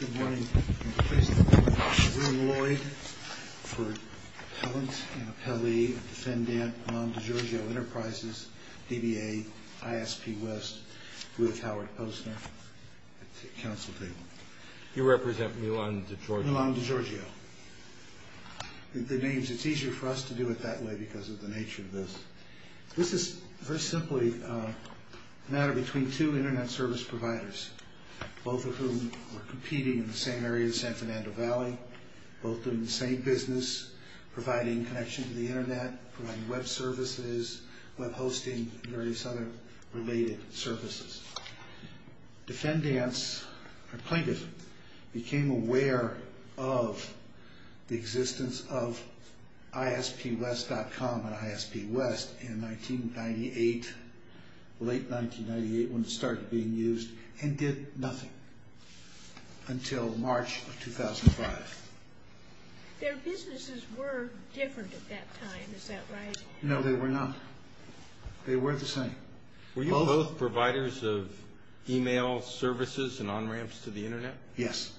Good morning. I'm pleased to be here with William Lloyd for Appellant and Appellee of Defendant Milon-Digiorgio Enterprises, DBA, ISP West, with Howard Posner at the Council Table. You represent Milon-Digiorgio? Milon-Digiorgio. The names, it's easier for us to do it that way because of the nature of this. This is very simply a matter between two internet service providers, both of whom were competing in the same area of San Fernando Valley, both doing the same business, providing connection to the internet, providing web services, web hosting, and various other related services. Defendants, or plaintiffs, became aware of the existence of ispwest.com and ISP West in 1998, late 1998 when it started being used, and did nothing until March of 2005. Their businesses were different at that time, is that right? No, they were not. They were the same. Were you both providers of email services and on-ramps to the internet? Yes,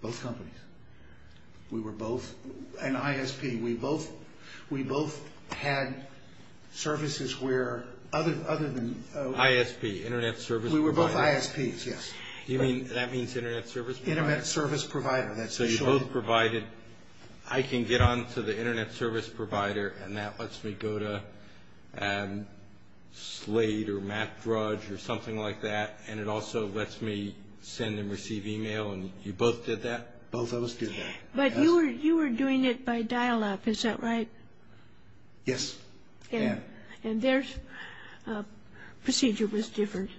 both companies. We were both, and ISP, we both had services where, other than... ISP, Internet Service Provider. We were both ISPs, yes. You mean, that means Internet Service Provider? Internet Service Provider, that's for sure. I can get on to the Internet Service Provider, and that lets me go to Slade or Map Drudge or something like that, and it also lets me send and receive email, and you both did that? Both of us did that. But you were doing it by dial-up, is that right? Yes, I am. And their procedure was different?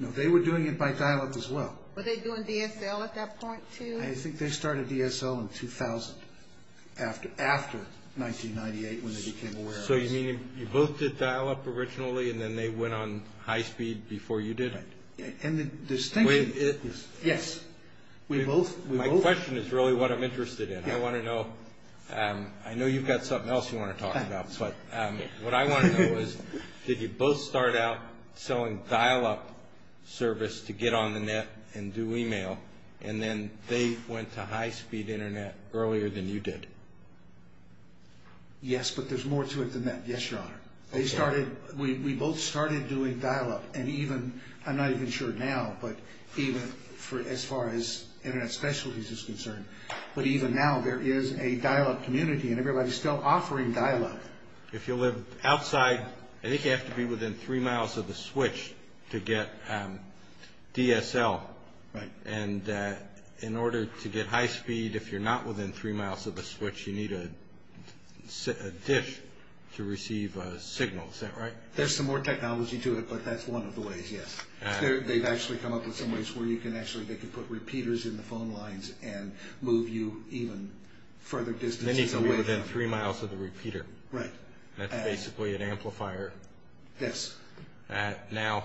No, they were doing it by dial-up as well. Were they doing DSL at that point, too? I think they started DSL in 2000, after 1998, when they became aware of it. So you mean, you both did dial-up originally, and then they went on high-speed before you did it? And the distinction... Yes, we both... My question is really what I'm interested in. I want to know, I know you've got something else you want to talk about, but what I want to know is, did you both start out selling dial-up service to get on the net and do email, and then they went to high-speed internet earlier than you did? Yes, but there's more to it than that. Yes, Your Honor. They started... We both started doing dial-up, and even... I'm not even sure now, but even as far as internet specialties is concerned, but even now there is a dial-up community, and everybody's still offering dial-up. If you live outside, I think you have to be within three miles of the switch to get DSL. Right. And in order to get high-speed, if you're not within three miles of the switch, you need a dish to receive a signal. Is that right? There's some more technology to it, but that's one of the ways, yes. They've actually come up with some ways where you can actually, they can put repeaters in the phone lines and move you even further distances away from... Then you need to be within three miles of the repeater. Right. That's basically an amplifier. Yes. Now,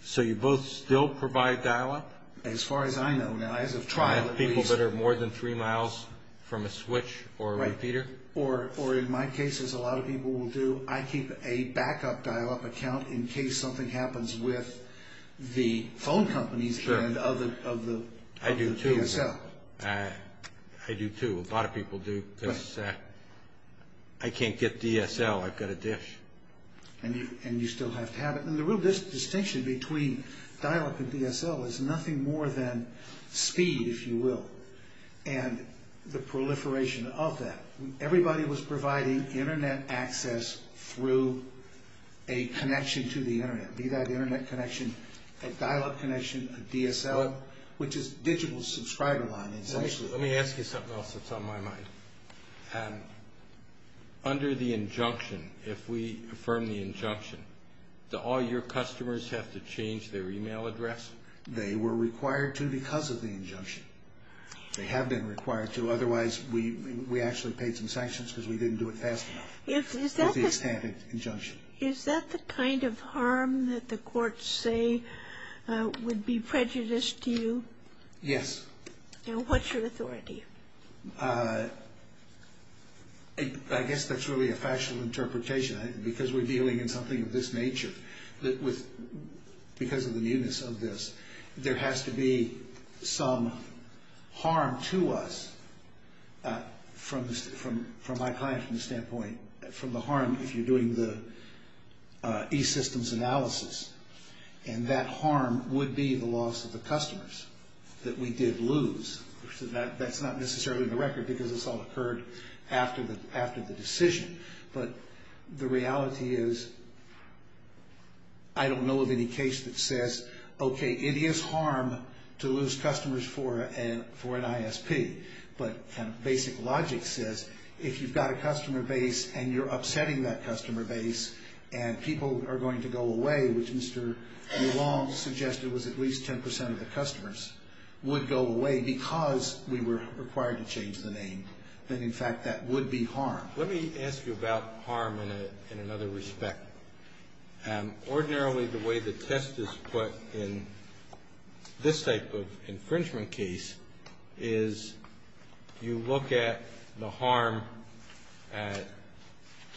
so you both still provide dial-up? As far as I know, no. As of trial... People that are more than three miles from a switch or a repeater? Or in my case, as a lot of people will do, I keep a backup dial-up account in case something happens with the phone companies of the DSL. I do, too. I do, too. A lot of people do, because I can't get DSL. I've got a dish. And you still have to have it. And the real distinction between dial-up and DSL is nothing more than speed, if you will, and the proliferation of that. Everybody was providing Internet access through a connection to the Internet. Be that Internet connection, a dial-up connection, a DSL, which is digital subscriber line, essentially. Let me ask you something else that's on my mind. Under the injunction, if we affirm the injunction, do all your customers have to change their e-mail address? They were required to because of the injunction. They have been required to. Otherwise, we actually paid some sanctions because we didn't do it fast enough. Is that the kind of harm that the courts say would be prejudiced to you? Yes. Now, what's your authority? I guess that's really a factual interpretation, because we're dealing in something of this nature. Because of the newness of this, there has to be some harm to us from my client standpoint, from the harm if you're doing the e-systems analysis. And that harm would be the loss of the customers that we did lose. That's not necessarily in the record, because this all occurred after the decision. But the reality is, I don't know of any case that says, okay, it is harm to lose customers for an ISP. But basic logic says, if you've got a customer base and you're upsetting that customer base, and people are going to go away, which Mr. Mulong suggested was at least 10% of the customers, would go away because we were required to change the name, then, in fact, that would be harm. Let me ask you about harm in another respect. Ordinarily, the way the test is put in this type of infringement case is you look at the harm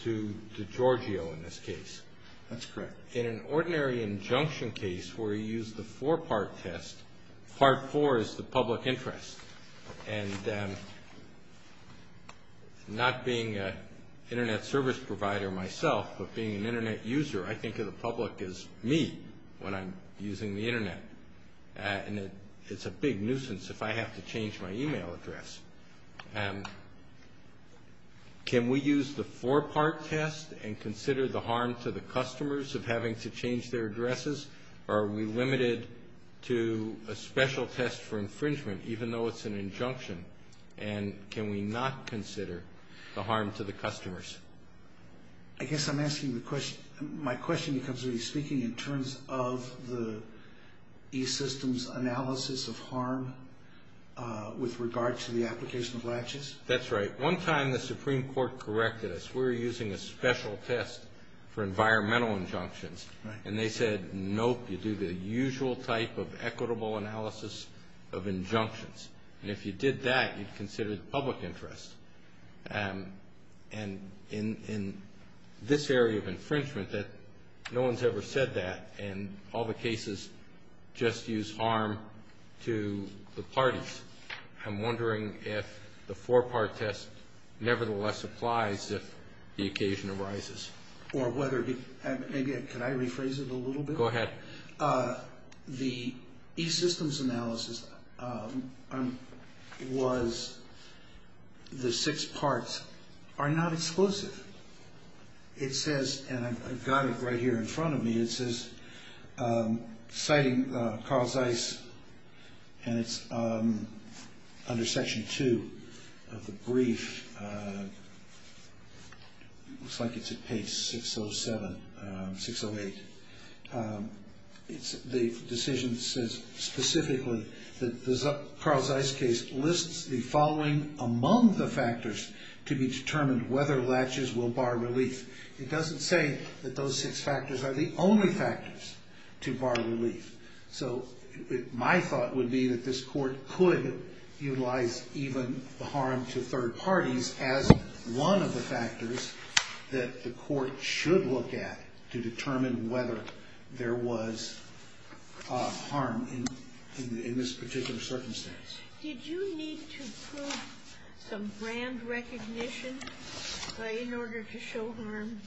to Giorgio in this case. That's correct. In an ordinary injunction case where you use the four-part test, part four is the public interest. And not being an Internet service provider myself, but being an Internet user, I think of the public as me when I'm using the Internet. And it's a big nuisance if I have to change my e-mail address. Can we use the four-part test and consider the harm to the customers of having to change their addresses? Or are we limited to a special test for infringement, even though it's an injunction? And can we not consider the harm to the customers? I guess I'm asking the question. My question becomes when you're speaking in terms of the e-systems analysis of harm with regard to the application of latches. That's right. One time the Supreme Court corrected us. We were using a special test for environmental injunctions. And they said, nope, you do the usual type of equitable analysis of injunctions. And if you did that, you'd consider the public interest. And in this area of infringement, no one's ever said that. And all the cases just use harm to the parties. I'm wondering if the four-part test nevertheless applies if the occasion arises. Or whether it – can I rephrase it a little bit? Go ahead. The e-systems analysis was the six parts are not exclusive. It says – and I've got it right here in front of me. It says citing Carl Zeiss and it's under Section 2 of the brief. It looks like it's at page 607, 608. The decision says specifically that the Carl Zeiss case lists the following among the factors to be determined whether latches will bar relief. It doesn't say that those six factors are the only factors to bar relief. So my thought would be that this Court could utilize even the harm to third parties as one of the factors that the Court should look at to determine whether there was harm in this particular circumstance. Did you need to prove some brand recognition in order to show harm?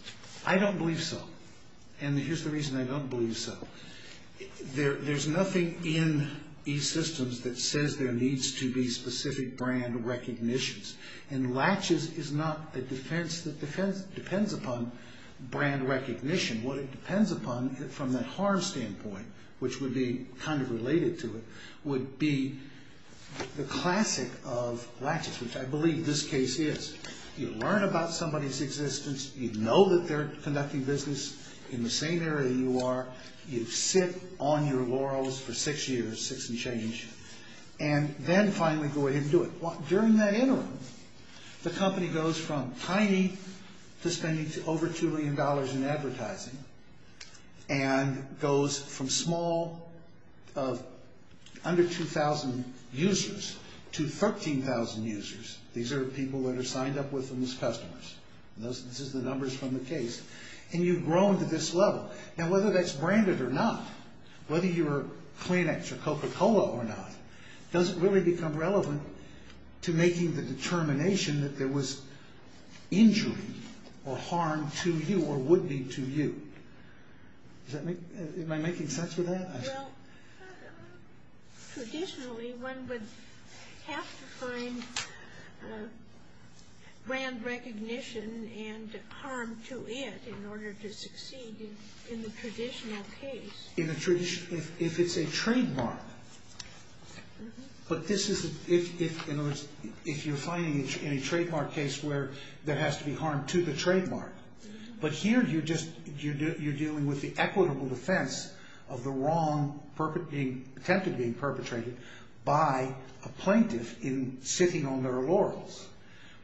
I don't believe so. And here's the reason I don't believe so. There's nothing in e-systems that says there needs to be specific brand recognitions. And latches is not a defense that depends upon brand recognition. What it depends upon from the harm standpoint, which would be kind of related to it, would be the classic of latches, which I believe this case is. You learn about somebody's existence. You know that they're conducting business in the same area you are. You sit on your laurels for six years, six and change, and then finally go ahead and do it. During that interim, the company goes from tiny to spending over $2 million in advertising and goes from small, under 2,000 users, to 13,000 users. These are people that are signed up with them as customers. This is the numbers from the case. And you've grown to this level. Now whether that's branded or not, whether you're Kleenex or Coca-Cola or not, doesn't really become relevant to making the determination that there was injury or harm to you or would be to you. Am I making sense with that? Well, traditionally, one would have to find brand recognition and harm to it in order to succeed in the traditional case. If it's a trademark. But this is if you're finding in a trademark case where there has to be harm to the trademark. But here you're dealing with the equitable defense of the wrong attempted being perpetrated by a plaintiff in sitting on their laurels,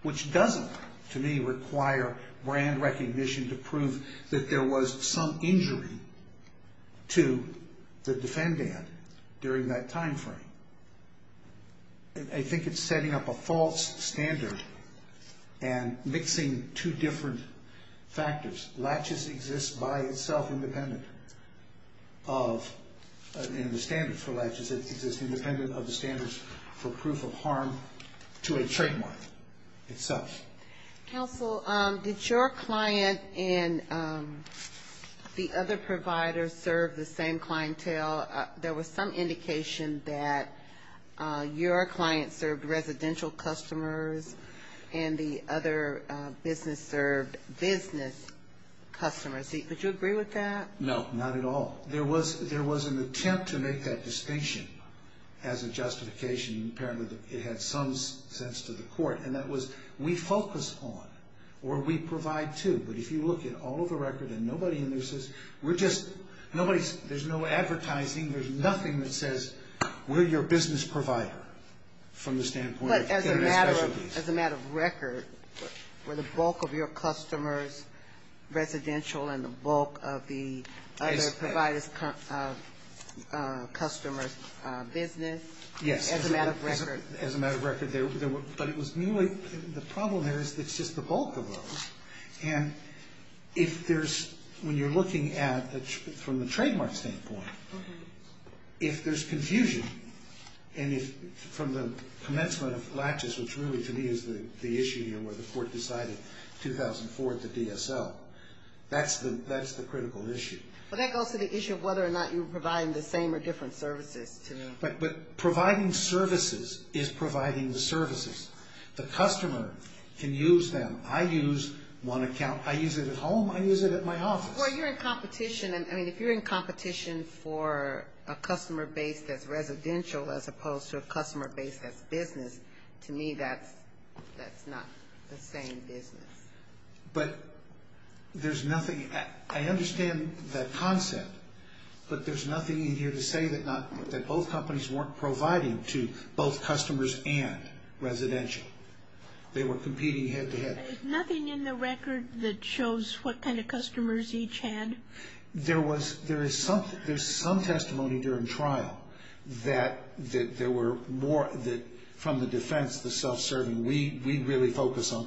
which doesn't, to me, require brand recognition to prove that there was some injury to the defendant during that time frame. I think it's setting up a false standard and mixing two different factors. Latches exist by itself independent of, and the standards for latches exist independent of the standards for proof of harm to a trademark itself. Counsel, did your client and the other providers serve the same clientele? There was some indication that your client served residential customers and the other business served business customers. Would you agree with that? No, not at all. There was an attempt to make that distinction as a justification. Apparently, it had some sense to the court. And that was we focus on or we provide to. But if you look at all of the record and nobody in there says, we're just, there's no advertising. There's nothing that says we're your business provider from the standpoint of As a matter of record, were the bulk of your customers residential and the bulk of the other providers' customers' business? Yes. As a matter of record. As a matter of record. But it was merely, the problem there is it's just the bulk of those. And if there's, when you're looking at it from the trademark standpoint, if there's confusion, and if from the commencement of latches, which really to me is the issue here where the court decided 2004 at the DSL, that's the critical issue. Well, that goes to the issue of whether or not you're providing the same or different services to them. But providing services is providing the services. The customer can use them. I use one account. I use it at home. I use it at my office. Well, you're in competition. I mean, if you're in competition for a customer base that's residential as opposed to a customer base that's business, to me that's not the same business. But there's nothing, I understand that concept. But there's nothing in here to say that both companies weren't providing to both customers and residential. They were competing head to head. Nothing in the record that shows what kind of customers each had? There was, there is some testimony during trial that there were more, that from the defense, the self-serving, we really focus on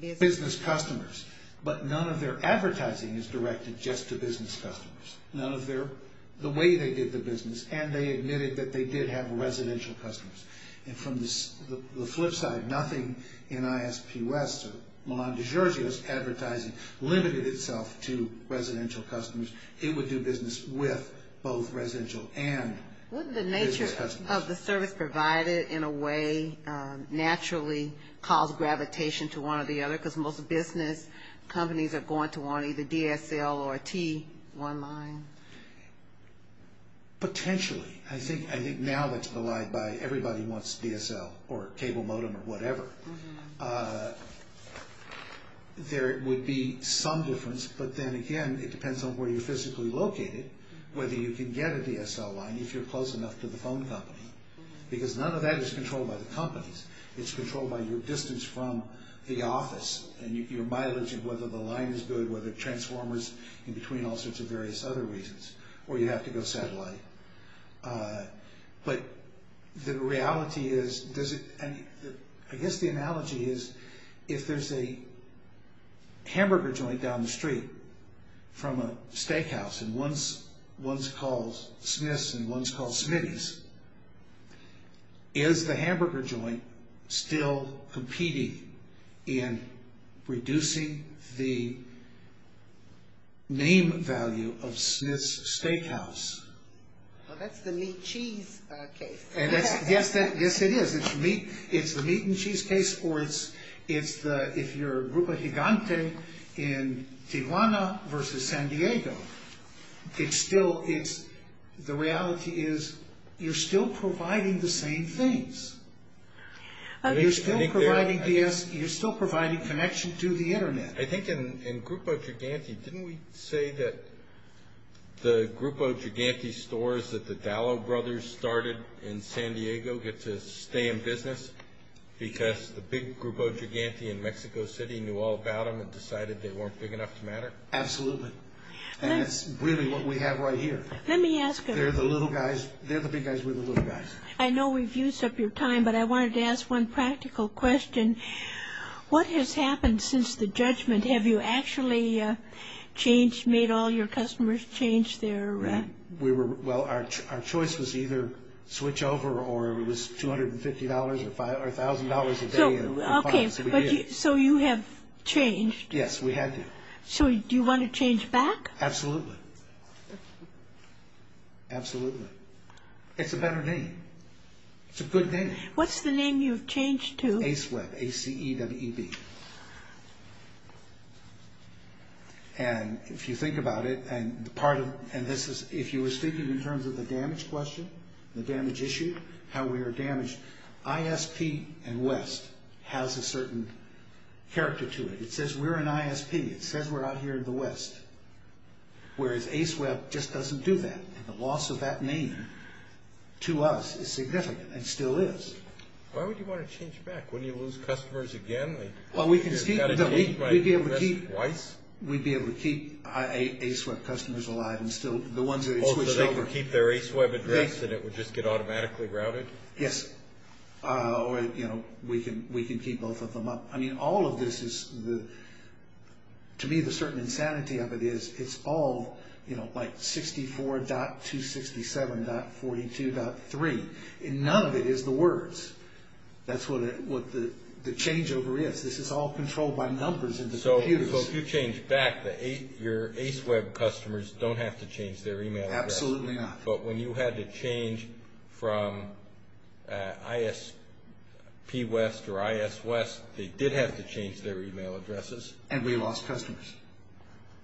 business customers. But none of their advertising is directed just to business customers. None of their, the way they did the business, and they admitted that they did have residential customers. And from the flip side, nothing in ISP West or Milan Di Giorgio's advertising limited itself to residential customers. It would do business with both residential and business customers. Wouldn't the nature of the service provided in a way naturally cause gravitation to one or the other? Because most business companies are going to want either DSL or a T1 line. Potentially. Potentially. I think now that's belied by everybody wants DSL or cable modem or whatever. There would be some difference, but then again, it depends on where you're physically located, whether you can get a DSL line if you're close enough to the phone company. Because none of that is controlled by the companies. It's controlled by your distance from the office and your mileage and whether the line is good, in between all sorts of various other reasons, or you have to go satellite. But the reality is, I guess the analogy is, if there's a hamburger joint down the street from a steakhouse, and one's called Smith's and one's called Smitty's, is the hamburger joint still competing in reducing the name value of Smith's Steakhouse? Well, that's the meat and cheese case. Yes, it is. It's the meat and cheese case, or if you're Grupo Gigante in Tijuana versus San Diego, the reality is you're still providing the same things. You're still providing connection to the Internet. I think in Grupo Gigante, didn't we say that the Grupo Gigante stores that the Dallow Brothers started in San Diego get to stay in business because the big Grupo Gigante in Mexico City knew all about them and decided they weren't big enough to matter? Absolutely. And that's really what we have right here. Let me ask you. They're the little guys. They're the big guys. We're the little guys. I know we've used up your time, but I wanted to ask one practical question. What has happened since the judgment? Have you actually changed, made all your customers change their... Well, our choice was either switch over or it was $250 or $1,000 a day. Okay, so you have changed. Yes, we had to. So do you want to change back? Absolutely. Absolutely. It's a better name. It's a good name. What's the name you've changed to? ACE Web, A-C-E-W-E-B. And if you think about it, and this is if you were speaking in terms of the damage question, the damage issue, how we are damaged, ISP and West has a certain character to it. It says we're an ISP. It says we're out here in the West, whereas ACE Web just doesn't do that. The loss of that name to us is significant and still is. Why would you want to change back? Wouldn't you lose customers again? We'd be able to keep ACE Web customers alive and still the ones that had switched over. Oh, so they could keep their ACE Web address and it would just get automatically routed? Yes, or we can keep both of them up. I mean, all of this is, to me, the certain insanity of it is it's all like 64.267.42.3. None of it is the words. That's what the changeover is. This is all controlled by numbers in the computers. So if you change back, your ACE Web customers don't have to change their email address. Absolutely not. But when you had to change from ISP West or IS West, they did have to change their email addresses. And we lost customers.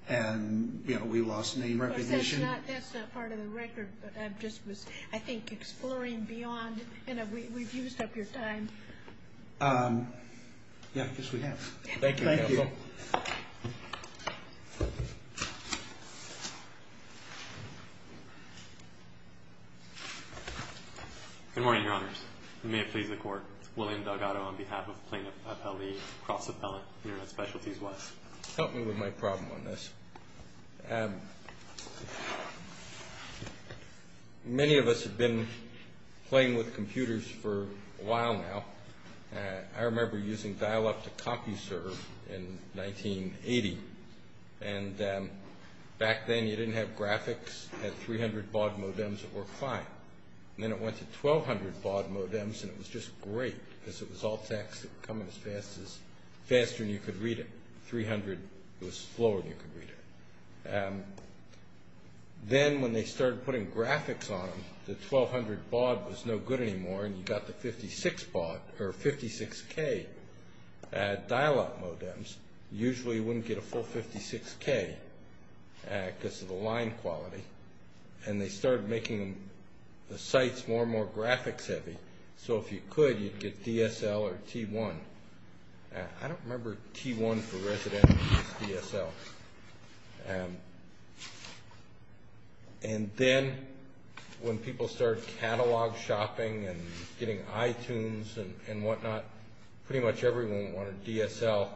And, you know, we lost name recognition. That's not part of the record, but I just was, I think, exploring beyond. We've used up your time. Yes, I guess we have. Thank you. Thank you. Good morning, Your Honors. May it please the Court. William Delgado on behalf of Plaintiff Appellee Cross-Appellant, Internet Specialties West. Help me with my problem on this. Many of us have been playing with computers for a while now. I remember using Dial-Up to CompuServe in 1980. And back then you didn't have graphics. You had 300 baud modems that worked fine. And then it went to 1,200 baud modems, and it was just great because it was all text. It would come in as fast as, faster than you could read it. 300, it was slower than you could read it. Then when they started putting graphics on them, the 1,200 baud was no good anymore, and you got the 56 baud, or 56K, Dial-Up modems. Usually you wouldn't get a full 56K because of the line quality. And they started making the sites more and more graphics heavy. So if you could, you'd get DSL or T1. I don't remember T1 for Resident or DSL. And then when people started catalog shopping and getting iTunes and whatnot, pretty much everyone wanted DSL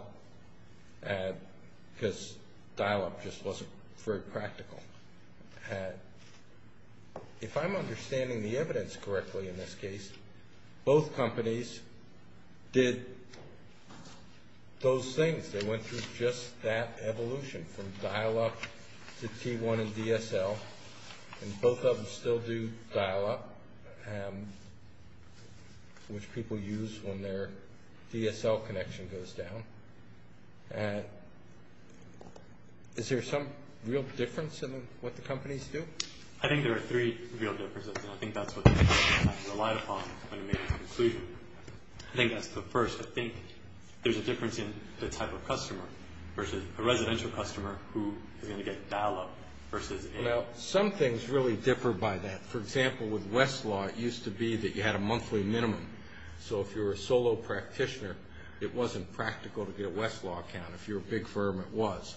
because Dial-Up just wasn't very practical. If I'm understanding the evidence correctly in this case, both companies did those things. They went through just that evolution from Dial-Up to T1 and DSL, and both of them still do Dial-Up, which people use when their DSL connection goes down. Is there some real difference in what the companies do? I think there are three real differences, and I think that's what the companies have relied upon when they make a conclusion. I think that's the first. I think there's a difference in the type of customer versus a residential customer who is going to get Dial-Up versus a— Well, some things really differ by that. For example, with Westlaw, it used to be that you had a monthly minimum. So if you were a solo practitioner, it wasn't practical to get a Westlaw account. If you were a big firm, it was.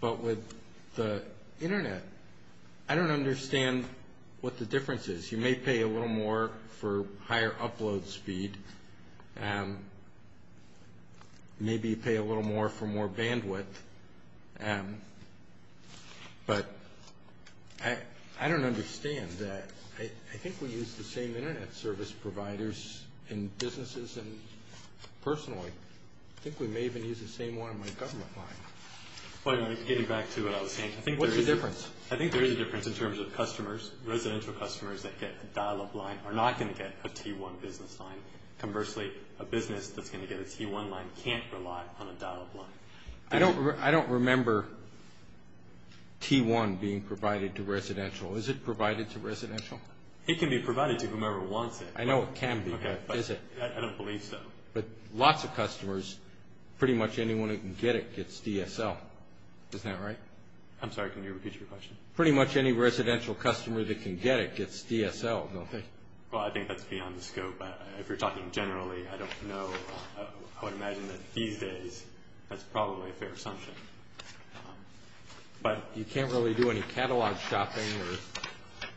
But with the Internet, I don't understand what the difference is. You may pay a little more for higher upload speed. Maybe you pay a little more for more bandwidth. But I don't understand that. I think we use the same Internet service providers in businesses and personally. I think we may even use the same one on the government line. Getting back to what I was saying, I think there is a difference in terms of customers. Residential customers that get a Dial-Up line are not going to get a T1 business line. Conversely, a business that's going to get a T1 line can't rely on a Dial-Up line. I don't remember T1 being provided to residential. Is it provided to residential? It can be provided to whomever wants it. I know it can be, but is it? I don't believe so. But lots of customers, pretty much anyone who can get it gets DSL. Isn't that right? I'm sorry, can you repeat your question? Pretty much any residential customer that can get it gets DSL, don't they? Well, I think that's beyond the scope. If you're talking generally, I don't know. I would imagine that these days that's probably a fair assumption. You can't really do any catalog shopping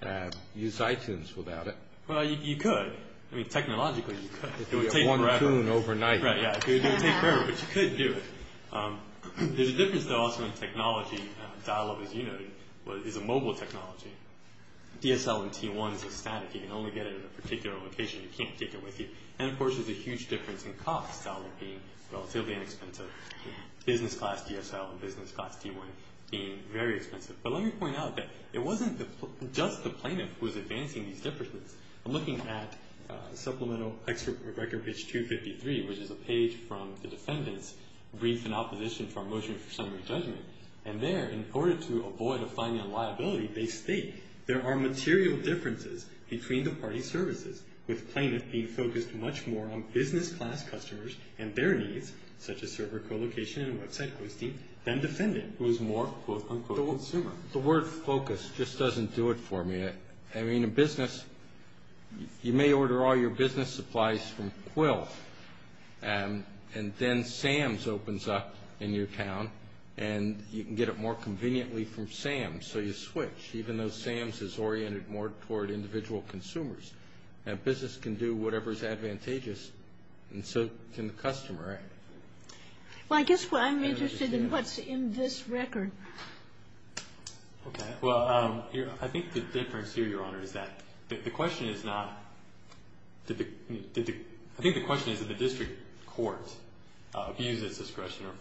or use iTunes without it. Well, you could. I mean, technologically you could. You could get one tune overnight. It would take forever, but you could do it. There's a difference, though, also in technology. Dial-Up, as you noted, is a mobile technology. DSL and T1 is a static. You can only get it at a particular location. You can't take it with you. And, of course, there's a huge difference in cost, Dial-Up being relatively inexpensive, business class DSL and business class T1 being very expensive. But let me point out that it wasn't just the plaintiff who was advancing these differences. I'm looking at Supplemental Excerpt of Record Page 253, which is a page from the defendant's brief in opposition to our motion for summary judgment. And there, in order to avoid a fine and liability, they state, there are material differences between the parties' services, with plaintiff being focused much more on business class customers and their needs, such as server co-location and website hosting, than defendant, who is more, quote, unquote, consumer. The word focus just doesn't do it for me. I mean, in business, you may order all your business supplies from Quill, and then Sam's opens up in your town, and you can get it more conveniently from Sam's. So you switch, even though Sam's is oriented more toward individual consumers. Now, business can do whatever is advantageous, and so can the customer, right? Well, I guess what I'm interested in, what's in this record? Okay. Well, I think the difference here, Your Honor, is that the question is not, I think the question is that the district court abused its discretion or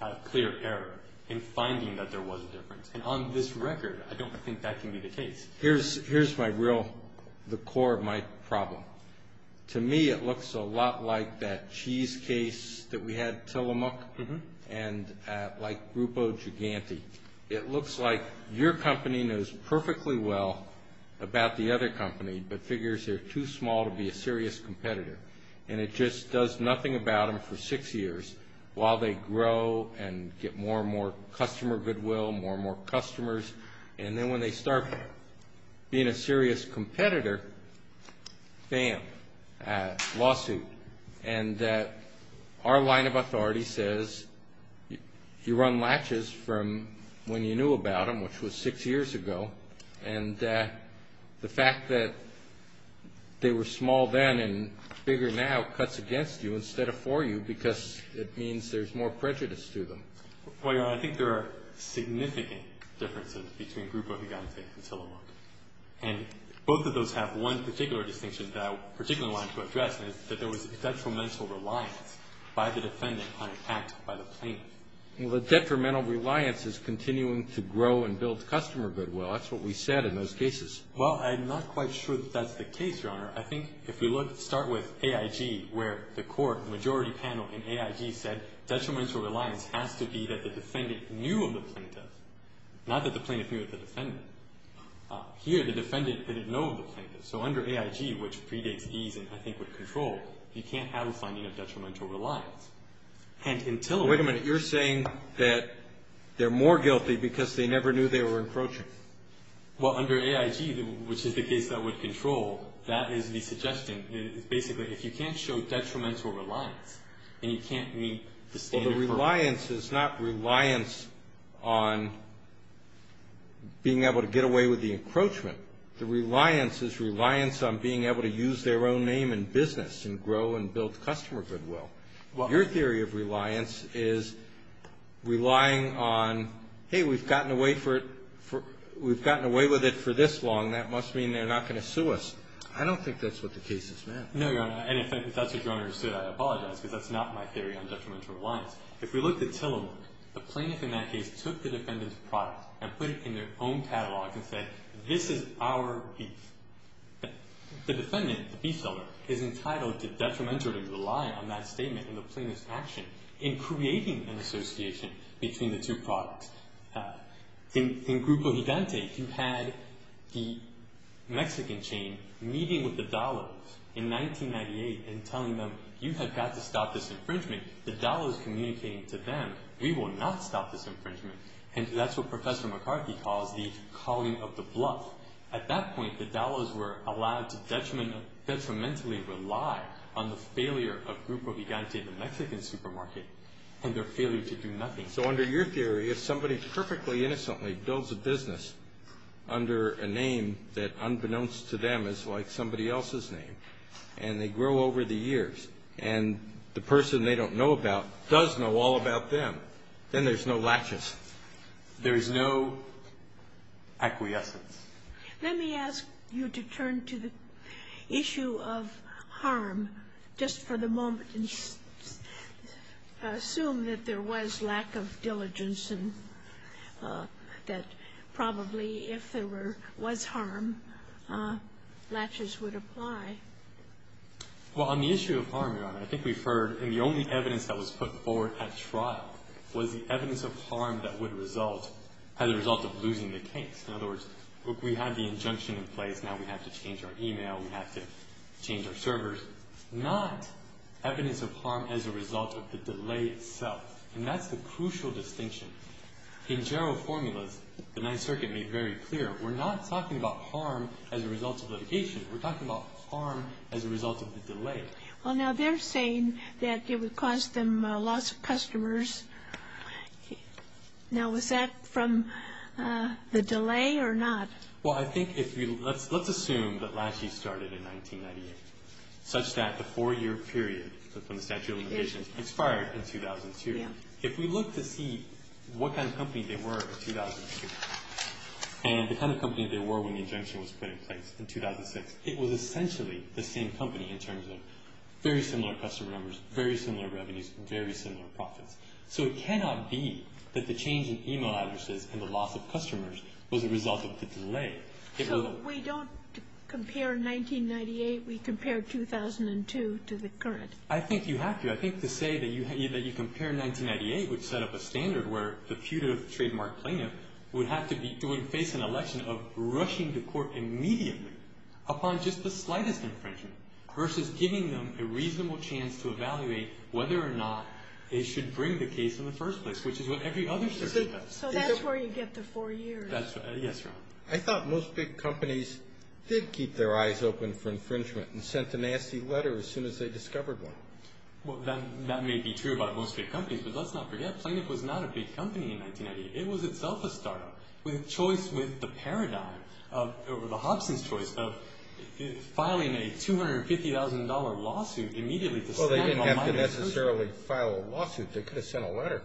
had clear error in finding that there was a difference. And on this record, I don't think that can be the case. Here's my real, the core of my problem. To me, it looks a lot like that cheese case that we had, Tillamook, and like Grupo Gigante. It looks like your company knows perfectly well about the other company, but figures they're too small to be a serious competitor. And it just does nothing about them for six years while they grow and get more and more customer goodwill, more and more customers. And then when they start being a serious competitor, bam, lawsuit. And our line of authority says you run latches from when you knew about them, which was six years ago. And the fact that they were small then and bigger now cuts against you instead of for you because it means there's more prejudice to them. Well, Your Honor, I think there are significant differences between Grupo Gigante and Tillamook. And both of those have one particular distinction that I particularly want to address, and it's that there was detrimental reliance by the defendant on an act by the plaintiff. Well, the detrimental reliance is continuing to grow and build customer goodwill. That's what we said in those cases. Well, I'm not quite sure that that's the case, Your Honor. I think if we start with AIG where the court, the majority panel in AIG said detrimental reliance has to be that the defendant knew of the plaintiff, not that the plaintiff knew of the defendant. Here the defendant didn't know of the plaintiff. So under AIG, which predates ease and I think with control, you can't have a finding of detrimental reliance. Wait a minute. You're saying that they're more guilty because they never knew they were encroaching. Well, under AIG, which is the case that would control, that is the suggestion. It's basically if you can't show detrimental reliance, then you can't meet the standard. Well, the reliance is not reliance on being able to get away with the encroachment. The reliance is reliance on being able to use their own name in business and grow and build customer goodwill. Your theory of reliance is relying on, hey, we've gotten away with it for this long. That must mean they're not going to sue us. I don't think that's what the case is, ma'am. No, Your Honor. And if that's what Your Honor understood, I apologize because that's not my theory on detrimental reliance. If we look at Tillamook, the plaintiff in that case took the defendant's product and put it in their own catalog and said, this is our beef. The defendant, the beef seller, is entitled to detrimentally rely on that statement and the plaintiff's action in creating an association between the two products. In Grupo Gigante, you had the Mexican chain meeting with the Dallos in 1998 and telling them, you have got to stop this infringement. The Dallos communicating to them, we will not stop this infringement. And that's what Professor McCarthy calls the calling of the bluff. At that point, the Dallos were allowed to detrimentally rely on the failure of Grupo Gigante, the Mexican supermarket, and their failure to do nothing. So under your theory, if somebody perfectly innocently builds a business under a name that unbeknownst to them is like somebody else's name, and they grow over the years, and the person they don't know about does know all about them, then there's no latches. There is no acquiescence. Let me ask you to turn to the issue of harm just for the moment and assume that there was lack of diligence and that probably if there was harm, latches would apply. Well, on the issue of harm, Your Honor, I think we've heard, and the only evidence that was put forward at trial was the evidence of harm that would result as a result of losing the case. In other words, we had the injunction in place. Now we have to change our email. We have to change our servers. Not evidence of harm as a result of the delay itself. And that's the crucial distinction. In general formulas, the Ninth Circuit made very clear, we're not talking about harm as a result of litigation. We're talking about harm as a result of the delay. Well, now they're saying that it would cause them loss of customers. Now, was that from the delay or not? Well, I think if you, let's assume that latches started in 1998, such that the four-year period from the statute of limitations expired in 2002. If we look to see what kind of company they were in 2002 and the kind of company they were when the injunction was put in place in 2006, it was essentially the same company in terms of very similar customer numbers, very similar revenues, very similar profits. So it cannot be that the change in email addresses and the loss of customers was a result of the delay. So we don't compare 1998? We compare 2002 to the current? I think you have to. I think to say that you compare 1998 would set up a standard where the putative trademark plaintiff would have to face an election of rushing to court immediately upon just the slightest infringement versus giving them a reasonable chance to evaluate whether or not they should bring the case in the first place, which is what every other circuit does. So that's where you get the four years? Yes, Your Honor. I thought most big companies did keep their eyes open for infringement and sent a nasty letter as soon as they discovered one. Well, that may be true about most big companies, but let's not forget, Plaintiff was not a big company in 1998. It was itself a start-up with a choice with the paradigm or the Hobson's choice of filing a $250,000 lawsuit immediately. Well, they didn't have to necessarily file a lawsuit. They could have sent a letter.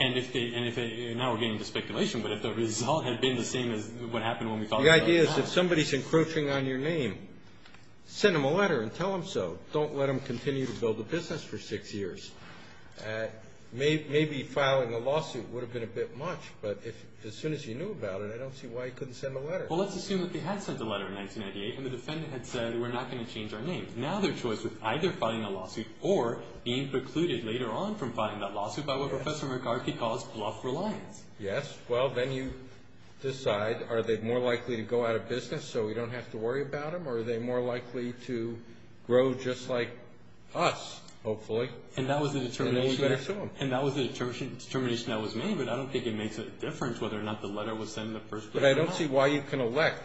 And now we're getting into speculation, but if the result had been the same as what happened when we filed the lawsuit. The idea is if somebody's encroaching on your name, send them a letter and tell them so. Don't let them continue to build a business for six years. Maybe filing a lawsuit would have been a bit much, but as soon as you knew about it, I don't see why you couldn't send a letter. Well, let's assume that they had sent a letter in 1998 and the defendant had said we're not going to change our name. Now their choice was either filing a lawsuit or being precluded later on from filing that lawsuit by what Professor McGarvey calls bluff reliance. Yes. Well, then you decide are they more likely to go out of business so we don't have to worry about them? Or are they more likely to grow just like us, hopefully? And that was the determination that was made, but I don't think it makes a difference whether or not the letter was sent in the first place or not. But I don't see why you can elect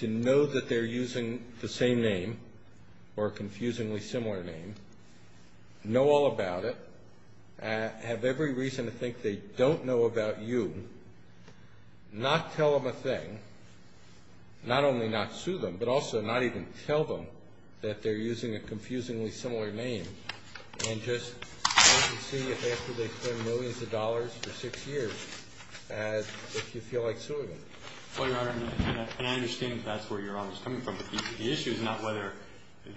to know that they're using the same name or a confusingly similar name, know all about it, have every reason to think they don't know about you, not tell them a thing, not only not sue them, but also not even tell them that they're using a confusingly similar name, and just wait and see if after they spend millions of dollars for six years if you feel like suing them. Well, Your Honor, and I understand that's where Your Honor is coming from, but the issue is not whether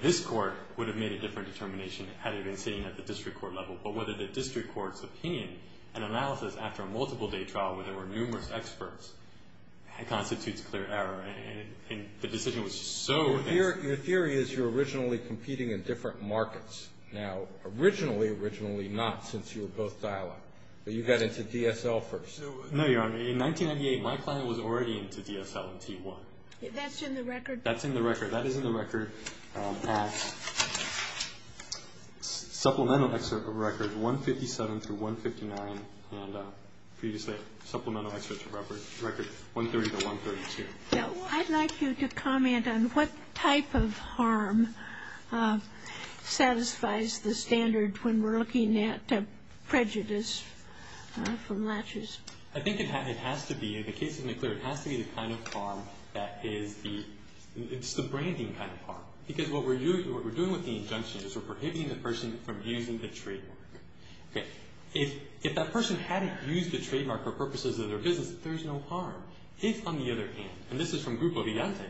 this Court would have made a different determination had it been sitting at the district court level, but whether the district court's opinion and analysis after a multiple-day trial where there were numerous experts constitutes clear error, and the decision was so... Your theory is you're originally competing in different markets. Now, originally, originally not since you were both dialogue, but you got into DSL first. No, Your Honor, in 1998 my client was already into DSL and T1. That's in the record. That is in the record at supplemental record 157 through 159, and previously supplemental record 130 to 132. Now, I'd like you to comment on what type of harm satisfies the standard when we're looking at prejudice from latches. I think it has to be, in the case of McClure, it has to be the kind of harm that is the... It's the branding kind of harm, because what we're doing with the injunction is we're prohibiting the person from using the trademark. If that person hadn't used the trademark for purposes of their business, there's no harm. If, on the other hand, and this is from Grupo Vigante,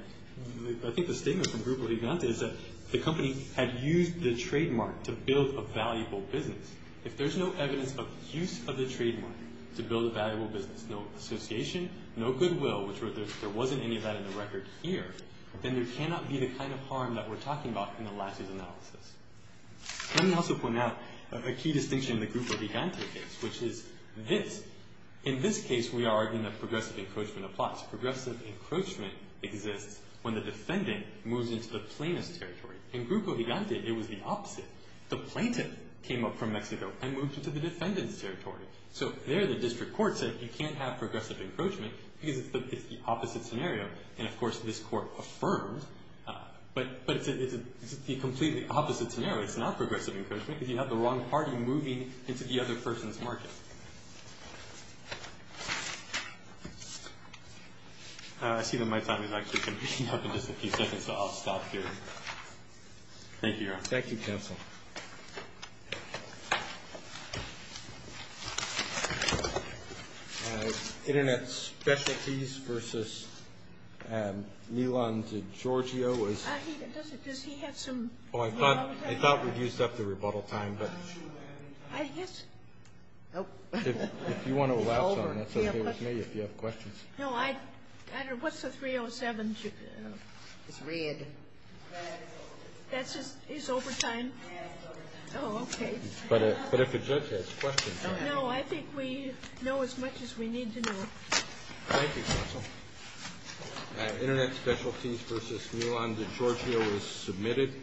I think the statement from Grupo Vigante is that the company had used the trademark to build a valuable business. If there's no evidence of use of the trademark to build a valuable business, no association, no goodwill, which there wasn't any of that in the record here, then there cannot be the kind of harm that we're talking about in the latches analysis. Let me also point out a key distinction in the Grupo Vigante case, which is this. In this case, we are arguing that progressive encroachment applies. Progressive encroachment exists when the defendant moves into the plaintiff's territory. In Grupo Vigante, it was the opposite. The plaintiff came up from Mexico and moved into the defendant's territory. So there the district court said you can't have progressive encroachment because it's the opposite scenario. And, of course, this court affirmed, but it's a completely opposite scenario. It's not progressive encroachment if you have the wrong party moving into the other person's market. I see that my time is actually coming up in just a few seconds, so I'll stop here. Thank you, Your Honor. Thank you, counsel. Internet Specialties v. Nilan DiGiorgio is Does he have some I thought we'd used up the rebuttal time, but I guess If you want to elapse on it, that's okay with me if you have questions. No, I don't know. What's the 307? It's red. That's his overtime? Oh, okay. But if the judge has questions. No, I think we know as much as we need to know. Thank you, counsel. Internet Specialties v. Nilan DiGiorgio is submitted.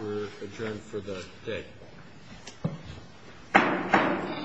We're adjourned for the day.